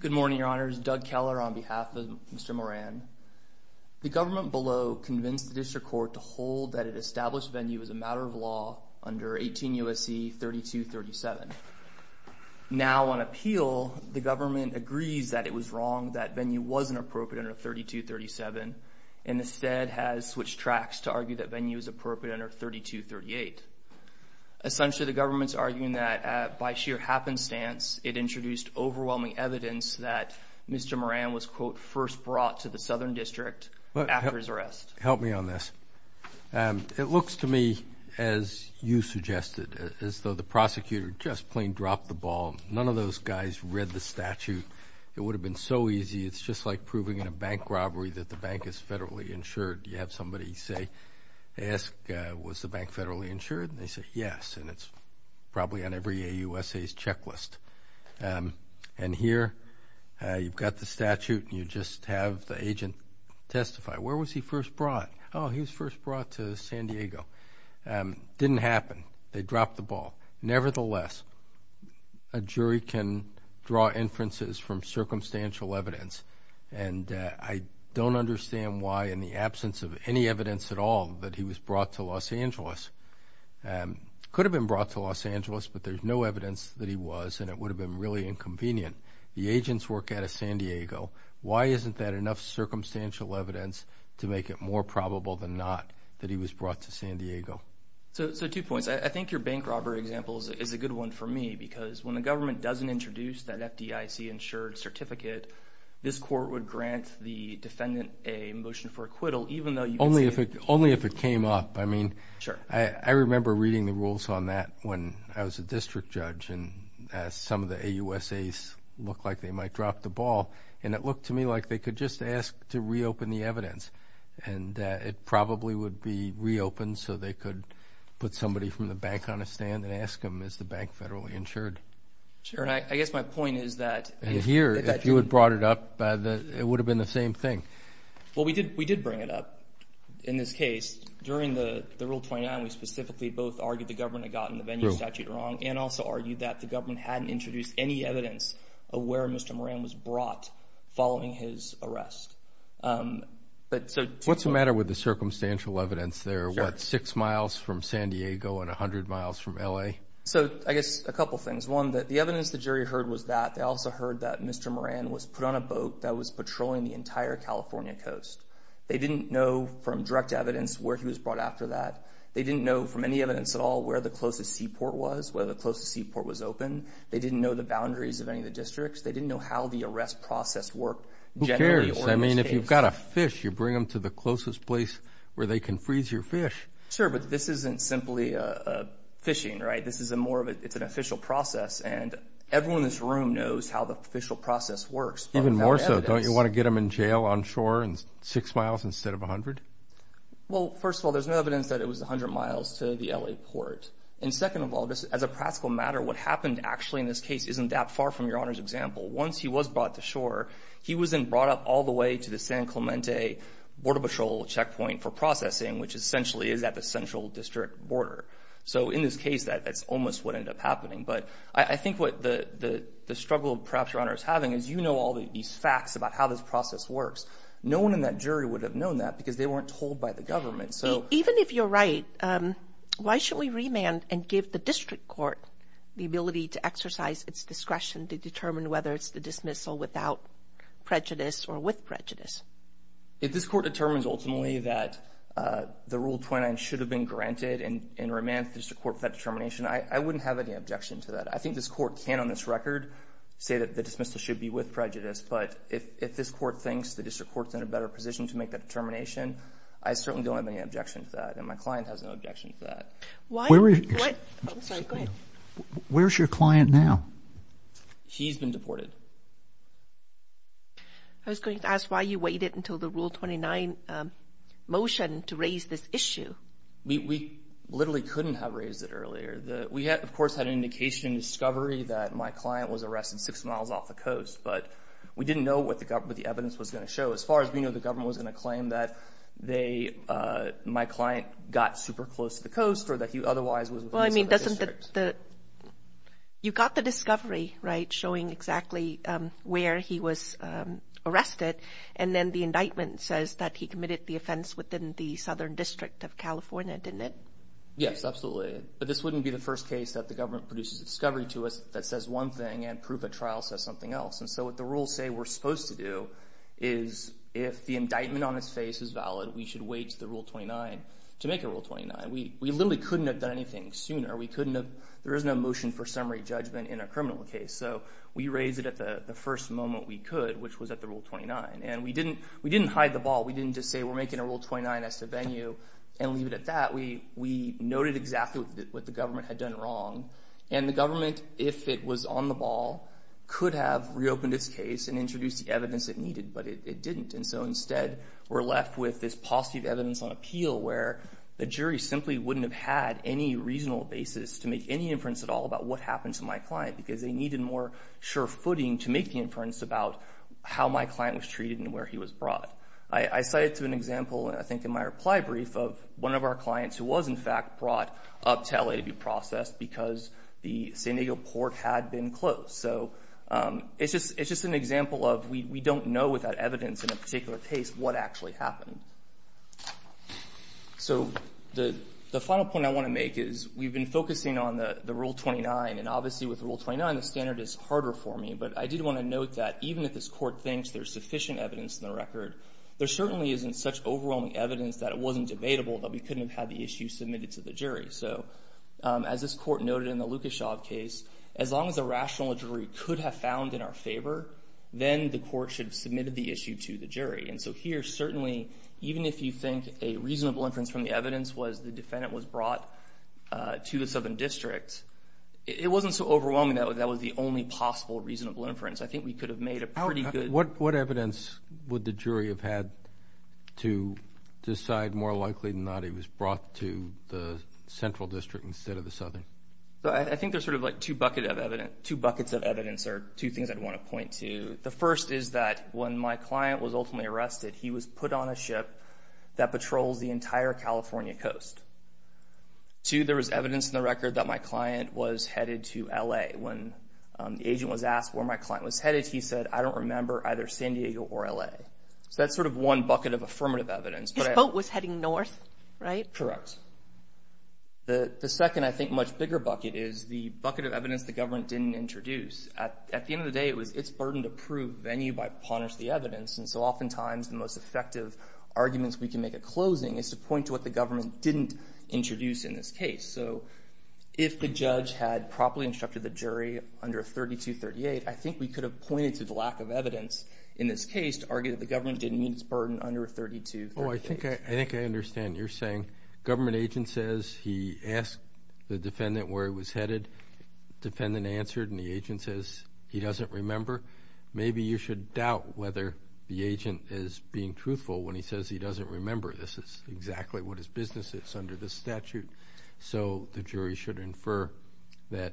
Good morning, your honors. Doug Keller on behalf of Mr. Moran. The government below convinced the district court to hold that it established venue as a matter of law under 18 U.S.C. 3237. Now on appeal, the government agrees that it was wrong, that venue wasn't appropriate under 3237, and instead has switched tracks to argue that venue is appropriate under 3238. Essentially, the government's arguing that by sheer happenstance, it introduced overwhelming evidence that Mr. Moran was, quote, first brought to the Southern District after his arrest. Help me on this. It looks to me as you suggested, as though the prosecutor just plain dropped the ball. None of those guys read the statute. It would have been so easy. It's just like proving in a bank robbery that the bank is federally insured. You have somebody say, ask, was the bank federally insured? And they say, yes. And it's probably on every AUSA's checklist. And here, you've got the statute and you just have the agent testify. Where was he first brought? Oh, he was first brought to San Diego. Didn't happen. They dropped the ball. Nevertheless, a jury can draw inferences from circumstantial evidence. And I don't understand why, in the absence of any evidence at all, that he was brought to Los Angeles. Could have been brought to Los Angeles, but there's no evidence that he was and it would have been really inconvenient. The agents work out of San Diego. Why isn't that enough circumstantial evidence to make it more probable than not that he was brought to San Diego? So, two points. I think your bank robbery example is a good one for me because when the government doesn't introduce that FDIC insured certificate, this court would grant the defendant a motion for acquittal, even though you can say... Only if it came up. I mean, I remember reading the rules on that when I was a district judge and some of the AUSA's looked like they might drop the ball. And it looked to me like they could just ask to reopen the evidence. And it probably would be reopened so they could put somebody from the bank on a stand and ask them, is the bank federally insured? Sure. And I guess my point is that... And here, if you had brought it up, it would have been the same thing. Well, we did bring it up in this case. During the Rule 29, we specifically both argued the government had gotten the venue statute wrong and also argued that the government hadn't introduced any evidence of where Mr. Moran was brought following his arrest. What's the matter with the circumstantial evidence there? What, six miles from San Diego and 100 miles from LA? So I guess a couple things. One, the evidence the jury heard was that. They also heard that Mr. Moran was put on a boat that was patrolling the entire California coast. They didn't know from direct evidence where he was brought after that. They didn't know from any evidence at all where the closest seaport was, where the closest seaport was open. They didn't know the boundaries of any of the districts. They didn't know how the arrest process worked Who cares? I mean, if you've got a fish, you bring them to the closest place where they can freeze your fish. Sir, but this isn't simply fishing, right? This is a more of an official process and everyone in this room knows how the official process works. Even more so. Don't you want to get him in jail on shore and six miles instead of 100? Well, first of all, there's no evidence that it was 100 miles to the LA port. And second of all, as a practical matter, what happened actually in this case isn't that far from your honor's example. Once he was brought to shore, he wasn't brought up all the way to the San Clemente border patrol checkpoint for processing, which essentially is at the central district border. So in this case, that's almost what ended up happening. But I think what the struggle of perhaps your honor is having is, you know, all these facts about how this process works. No one in that jury would have known that because they weren't told by the government. So even if you're right, why should we remand and give the district court the ability to determine whether it's the dismissal without prejudice or with prejudice? If this court determines ultimately that the Rule 29 should have been granted and remanded the district court for that determination, I wouldn't have any objection to that. I think this court can on this record say that the dismissal should be with prejudice. But if this court thinks the district court's in a better position to make that determination, I certainly don't have any objection to that. And my client has no objection to that. Why? Where is your client now? He's been deported. I was going to ask why you waited until the Rule 29 motion to raise this issue. We literally couldn't have raised it earlier. We, of course, had an indication in discovery that my client was arrested six miles off the coast, but we didn't know what the evidence was going to show. As far as we know, the government was going to claim that my client got super close to the coast or that he otherwise was. Well, I mean, you got the discovery, right, showing exactly where he was arrested. And then the indictment says that he committed the offense within the Southern District of California, didn't it? Yes, absolutely. But this wouldn't be the first case that the government produces discovery to us that says one thing and proof of trial says something else. And so what the rules say we're supposed to do is if the indictment on his face is valid, we should wait the Rule 29 to make a Rule 29. We literally couldn't have done anything sooner. We couldn't have. There is no motion for summary judgment in a criminal case. So we raised it at the first moment we could, which was at the Rule 29. And we didn't hide the ball. We didn't just say we're making a Rule 29 as the venue and leave it at that. We noted exactly what the government had done wrong. And the government, if it was on the ball, could have reopened its case and introduced the evidence it needed, but it didn't. And so instead, we're left with this positive evidence on appeal where the jury simply wouldn't have had any reasonable basis to make any inference at all about what happened to my client because they needed more sure footing to make the inference about how my client was treated and where he was brought. I cited an example, I think, in my reply brief of one of our clients who was, in fact, brought up to LA to be processed because the San Diego port had been closed. So it's just an example of we don't know without evidence in a particular case what actually happened. So the final point I want to make is we've been focusing on the Rule 29. And obviously, with Rule 29, the standard is harder for me. But I did want to note that even if this Court thinks there's sufficient evidence in the record, there certainly isn't such overwhelming evidence that it wasn't debatable that we couldn't have had the issue submitted to the jury. So as this Court noted in the Lukashov case, as long as a rational jury could have found in our favor, then the Court should have submitted the issue to the jury. And so here, certainly, even if you think a reasonable inference from the evidence was the defendant was brought to the Southern District, it wasn't so overwhelming that that was the only possible reasonable inference. I think we could have made a pretty good... What evidence would the jury have had to decide more likely than not he was brought to the Central District instead of the Southern? I think there's sort of like two buckets of evidence or two things I'd want to point to. The first is that when my client was ultimately arrested, he was put on a ship that patrols the entire California coast. Two, there was evidence in the record that my client was headed to L.A. When the agent was asked where my client was headed, he said, I don't remember, either San Diego or L.A. So that's sort of one bucket of affirmative evidence. His boat was heading north, right? Correct. The second, I think, much bigger bucket is the bucket of evidence the government didn't introduce. At the end of the day, it was its burden to prove venue by punish the evidence. And so oftentimes, the most effective arguments we can make a closing is to point to what the government didn't introduce in this case. So if the judge had properly instructed the jury under 3238, I think we could have pointed to the lack of evidence in this case to argue that the government didn't meet its burden under 3238. No, I think I understand you're saying government agent says he asked the defendant where he was headed. Defendant answered and the agent says he doesn't remember. Maybe you should doubt whether the agent is being truthful when he says he doesn't remember this is exactly what his business is under the statute. So the jury should infer that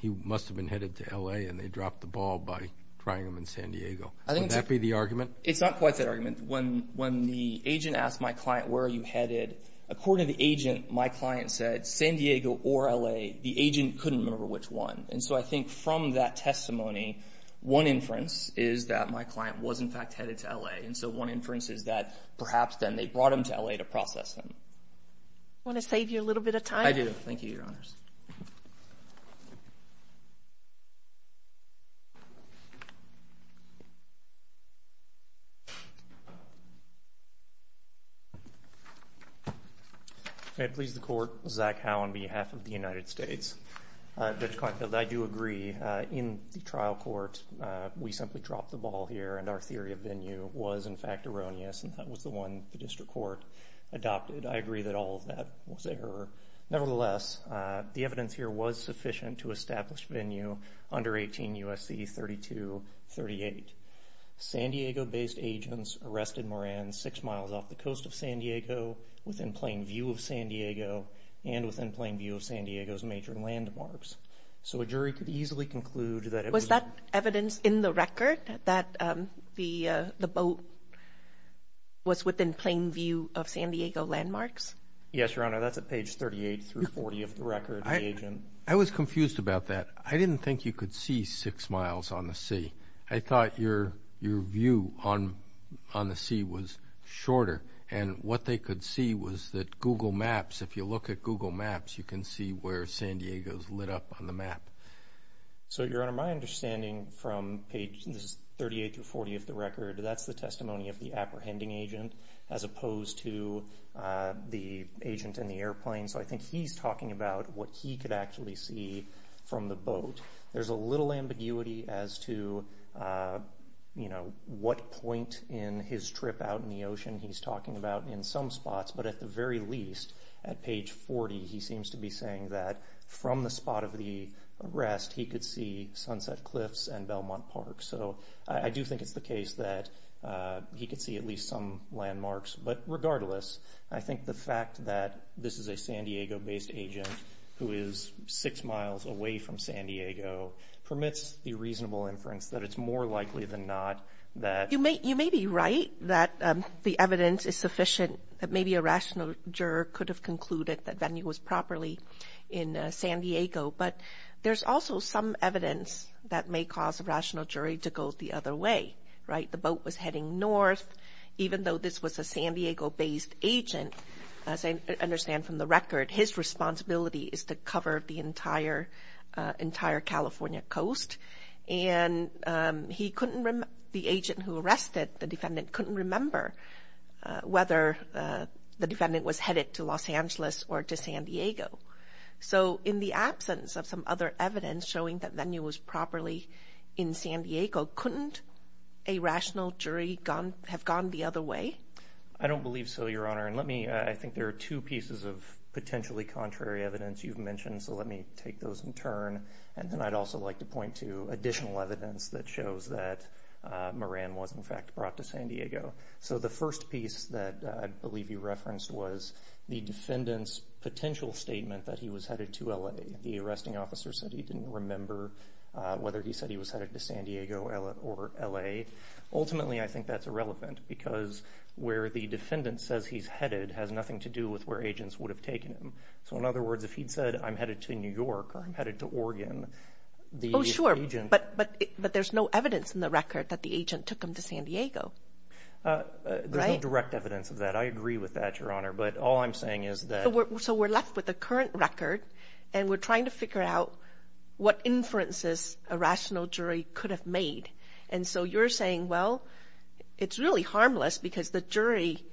he must have been headed to L.A. and they dropped the ball by It's not quite that argument. When when the agent asked my client, where are you headed? According to the agent, my client said San Diego or L.A. The agent couldn't remember which one. And so I think from that testimony, one inference is that my client was in fact headed to L.A. And so one inference is that perhaps then they brought him to L.A. to process them. Want to save you a little bit of time? I do. Thank you, Your Honors. I had pleased the court, Zach Howe, on behalf of the United States. I do agree. In the trial court, we simply dropped the ball here. And our theory of venue was, in fact, erroneous. And that was the one the district court adopted. I agree that all of that was error. Nevertheless, the evidence here was sufficient to establish venue under 18 U.S.C. 3238. San Diego based agents arrested Moran six miles off the coast of San Diego within plain view of San Diego and within plain view of San Diego's major landmarks. So a jury could easily conclude that it was that evidence in the record that the boat was within plain view of San Diego landmarks. Yes, Your Honor. That's at page 38 through 40 of the record. I was confused about that. I didn't think you could see six miles on the sea. I thought your view on the sea was shorter. And what they could see was that Google Maps, if you look at Google Maps, you can see where San Diego's lit up on the map. So, Your Honor, my understanding from page 38 through 40 of the record, that's the testimony of the apprehending agent as opposed to the agent in the airplane. So I think he's talking about what he could actually see from the boat. There's a little ambiguity as to, you know, what point in his trip out in the ocean he's talking about in some spots. But at the very least, at page 40, he seems to be saying that from the spot of the arrest, he could see Sunset Cliffs and Belmont Park. So I do think it's the case that he could see at least some landmarks. But the fact that he's a San Diego-based agent who is six miles away from San Diego permits the reasonable inference that it's more likely than not that... You may be right that the evidence is sufficient, that maybe a rational juror could have concluded that venue was properly in San Diego. But there's also some evidence that may cause a rational jury to go the other way, right? The boat was heading north. Even though this was a San Diego-based agent, as I understand from the record, his responsibility is to cover the entire California coast. And he couldn't remember... The agent who arrested the defendant couldn't remember whether the defendant was headed to Los Angeles or to San Diego. So in the absence of some other evidence showing that venue was properly in San Diego, couldn't a rational jury have gone the other way? I don't believe so, Your Honor. And let me... I think there are two pieces of potentially contrary evidence you've mentioned, so let me take those in turn. And then I'd also like to point to additional evidence that shows that Moran was in fact brought to San Diego. So the first piece that I believe you referenced was the defendant's potential statement that he was headed to LA. The arresting officer said he didn't remember whether he said he was headed to San Diego or LA. Ultimately, I think the fact that he says he's headed has nothing to do with where agents would have taken him. So in other words, if he'd said, I'm headed to New York or I'm headed to Oregon, the agent... Oh sure, but there's no evidence in the record that the agent took him to San Diego. There's no direct evidence of that. I agree with that, Your Honor. But all I'm saying is that... So we're left with the current record and we're trying to figure out what inferences a rational jury could have made. And so you're saying, well, it's really harmless because the jury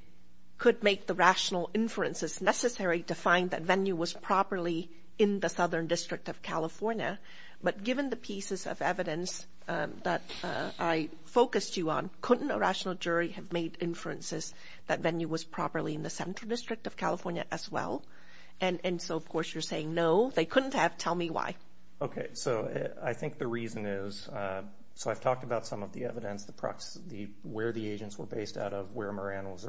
could make the rational inferences necessary to find that venue was properly in the Southern District of California. But given the pieces of evidence that I focused you on, couldn't a rational jury have made inferences that venue was properly in the Central District of California as well? And so of course you're saying, no, they couldn't have. Tell me why. Okay, so I think the reason is... So I've talked about some of the evidence, the where the evidence is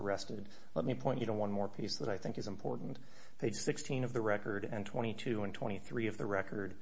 tested. Let me point you to one more piece that I think is important. Page 16 of the record and 22 and 23 of the record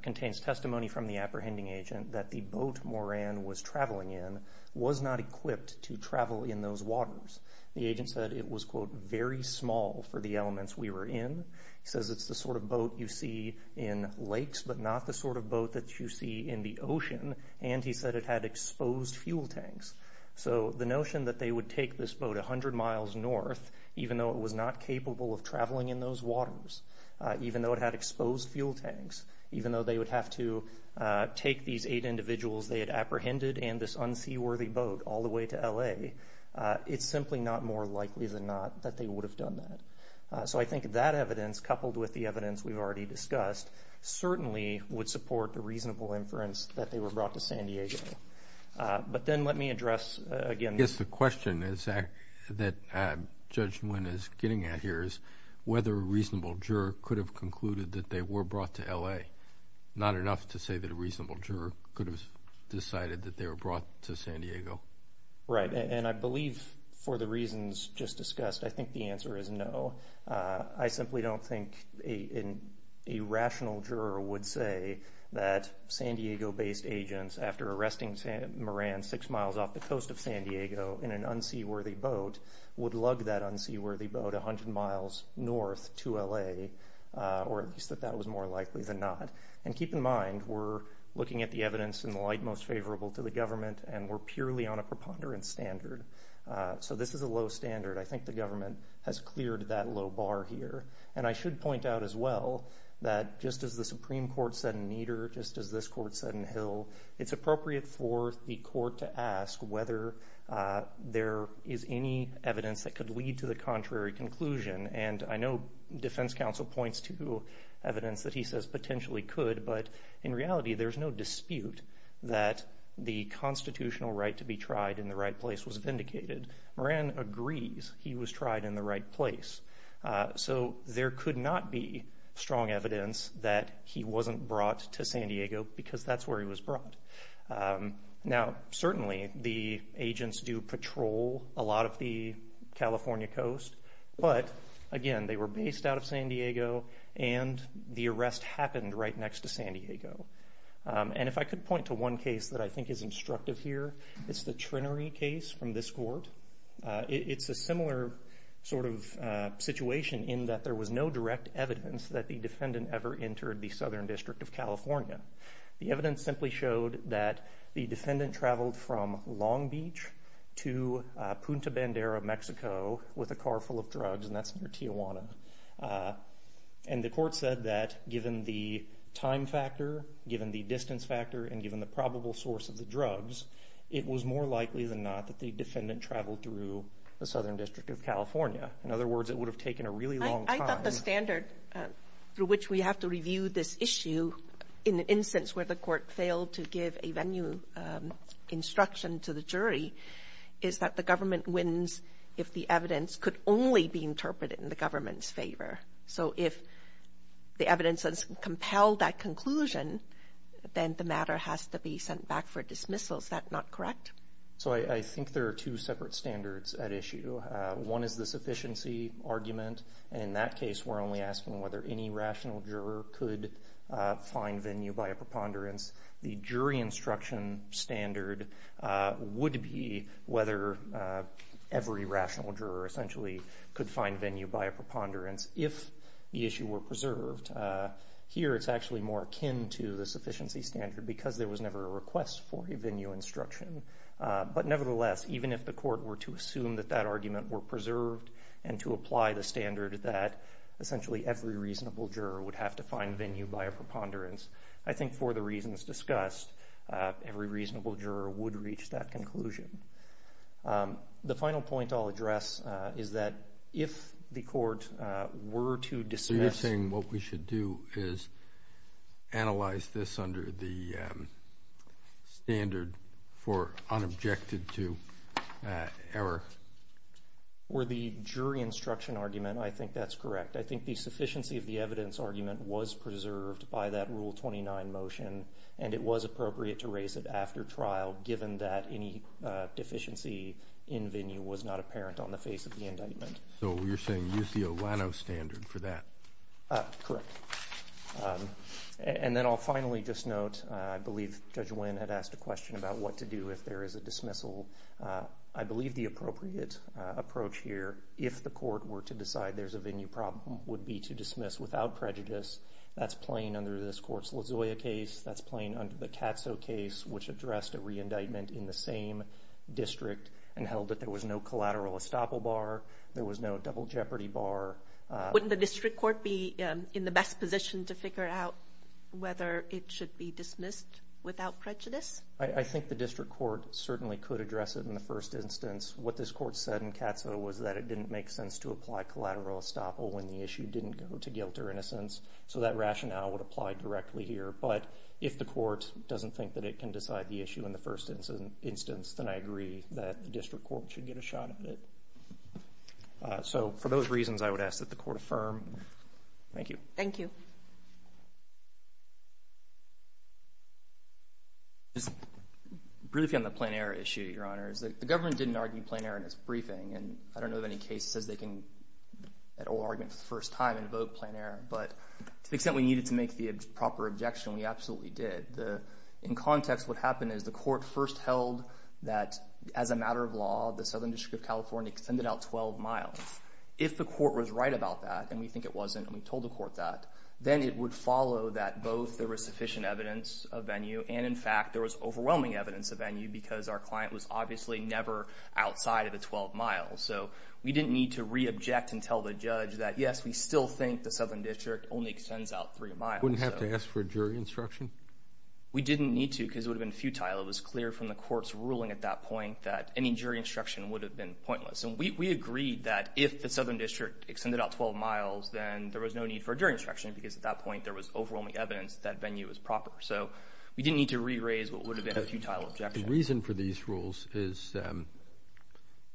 contains testimony from the apprehending agent that the boat Moran was traveling in was not equipped to travel in those waters. The agent said it was, quote, very small for the elements we were in. He says it's the sort of boat you see in lakes, but not the sort of boat that you see in the ocean. And he said it had exposed fuel tanks. So the boat was 100 miles north, even though it was not capable of traveling in those waters, even though it had exposed fuel tanks, even though they would have to take these eight individuals they had apprehended and this unseaworthy boat all the way to LA. It's simply not more likely than not that they would have done that. So I think that evidence, coupled with the evidence we've already discussed, certainly would support the reasonable inference that they were that judgment is getting at here is whether a reasonable juror could have concluded that they were brought to L. A. Not enough to say that a reasonable juror could have decided that they were brought to San Diego, right? And I believe for the reasons just discussed, I think the answer is no. I simply don't think in a rational juror would say that San Diego based agents after arresting Moran six miles off the coast of San Diego in an unseaworthy boat would lug that unseaworthy boat 100 miles north to L. A. Or at least that that was more likely than not. And keep in mind, we're looking at the evidence in the light most favorable to the government, and we're purely on a preponderance standard. So this is a low standard. I think the government has cleared that low bar here, and I should point out as well that just as the Supreme Court said in Nieder, just as this court said in Hill, it's any evidence that could lead to the contrary conclusion. And I know Defense Council points to evidence that he says potentially could. But in reality, there's no dispute that the constitutional right to be tried in the right place was vindicated. Moran agrees he was tried in the right place, so there could not be strong evidence that he wasn't brought to San Diego because that's where he was brought. Now, certainly, the agents do patrol a lot of the California coast. But again, they were based out of San Diego, and the arrest happened right next to San Diego. And if I could point to one case that I think is instructive here, it's the Trenary case from this court. It's a similar sort of situation in that there was no direct evidence that the defendant traveled from Long Beach to Punta Bandera, Mexico, with a car full of drugs, and that's near Tijuana. And the court said that given the time factor, given the distance factor, and given the probable source of the drugs, it was more likely than not that the defendant traveled through the Southern District of California. In other words, it would have taken a really long time. I thought the standard through which we have to review this issue in the instance where the court failed to give a venue instruction to the jury is that the government wins if the evidence could only be interpreted in the government's favor. So if the evidence has compelled that conclusion, then the matter has to be sent back for dismissal. Is that not correct? So I think there are two separate standards at issue. One is the sufficiency argument. And in that case, we're only asking whether any rational juror could find venue by a preponderance. The jury instruction standard would be whether every rational juror essentially could find venue by a preponderance if the issue were preserved. Here, it's actually more akin to the sufficiency standard because there was never a request for a venue instruction. But nevertheless, even if the court were to assume that that argument were preserved and to apply the standard that essentially every reasonable juror would have to find venue by a preponderance, I think for the reasons discussed, every reasonable juror would reach that conclusion. The final point I'll address is that if the court were to dismiss... So you're saying what we should do is analyze this under the standard for unobjected to error? Or the jury instruction argument, I think that's correct. I think the sufficiency of the evidence argument was preserved by that Rule 29 motion and it was appropriate to raise it after trial given that any deficiency in venue was not apparent on the face of the indictment. So you're saying use the Olano standard for that? Correct. And then I'll finally just note, I believe Judge Wynn had asked a question about what to do if there is a dismissal. I believe the appropriate approach here, if the court were to decide there's a venue problem, would be to dismiss without prejudice. That's plain under this court's LaZoya case. That's plain under the Katso case, which addressed a re-indictment in the same district and held that there was no collateral estoppel bar, there was no double jeopardy bar. Wouldn't the district court be in the best position to figure out whether it should be dismissed without prejudice? I think the district court certainly could address it in the first instance. What this court said in Katso was that it didn't make sense to apply collateral estoppel when the issue didn't go to guilt or innocence, so that rationale would apply directly here. But if the court doesn't think that it can decide the issue in the first instance, then I agree that the district court should get a shot at it. So for those reasons, I would ask that the court affirm. Thank you. Thank you. Just briefly on the plain error issue, Your Honors, the government didn't argue plain error in its briefing, and I don't know of any case that says they can at all argument for the first time invoke plain error. But to the extent we needed to make the proper objection, we absolutely did. In context, what happened is the court first held that, as a matter of law, the Southern District of California extended out 12 miles. If the court was right about that, and we think it wasn't, and we then it would follow that both there was sufficient evidence of venue, and in fact there was overwhelming evidence of venue, because our client was obviously never outside of the 12 miles. So we didn't need to re-object and tell the judge that, yes, we still think the Southern District only extends out three miles. You wouldn't have to ask for a jury instruction? We didn't need to because it would have been futile. It was clear from the court's ruling at that point that any jury instruction would have been pointless. And we agreed that if the Southern District extended out 12 miles, then there was no need for a jury instruction because at that point there was overwhelming evidence that venue was proper. So we didn't need to re-raise what would have been a futile objection. The reason for these rules is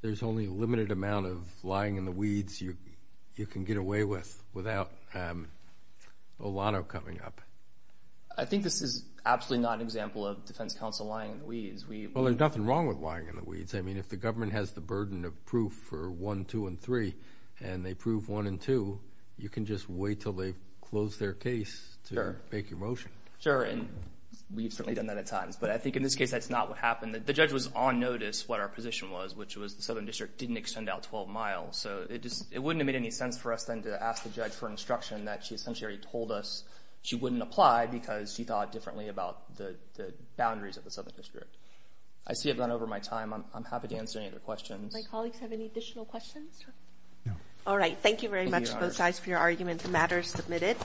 there's only a limited amount of lying in the weeds you can get away with without Olano coming up. I think this is absolutely not an example of defense counsel lying in the weeds. Well, there's nothing wrong with lying in the weeds. I mean, if the government has the burden of proof for 1, 2, and 3, and they prove 1 and 2, you can just wait till they close their case to make your motion. Sure, and we've certainly done that at times. But I think in this case that's not what happened. The judge was on notice what our position was, which was the Southern District didn't extend out 12 miles. So it just it wouldn't have made any sense for us then to ask the judge for instruction that she essentially already told us she wouldn't apply because she thought differently about the boundaries of the Southern District. I see I've gone over my time. I'm happy to answer any other questions. My colleagues have any additional questions? No. All right, thank you very much both sides for your argument. The matter is submitted.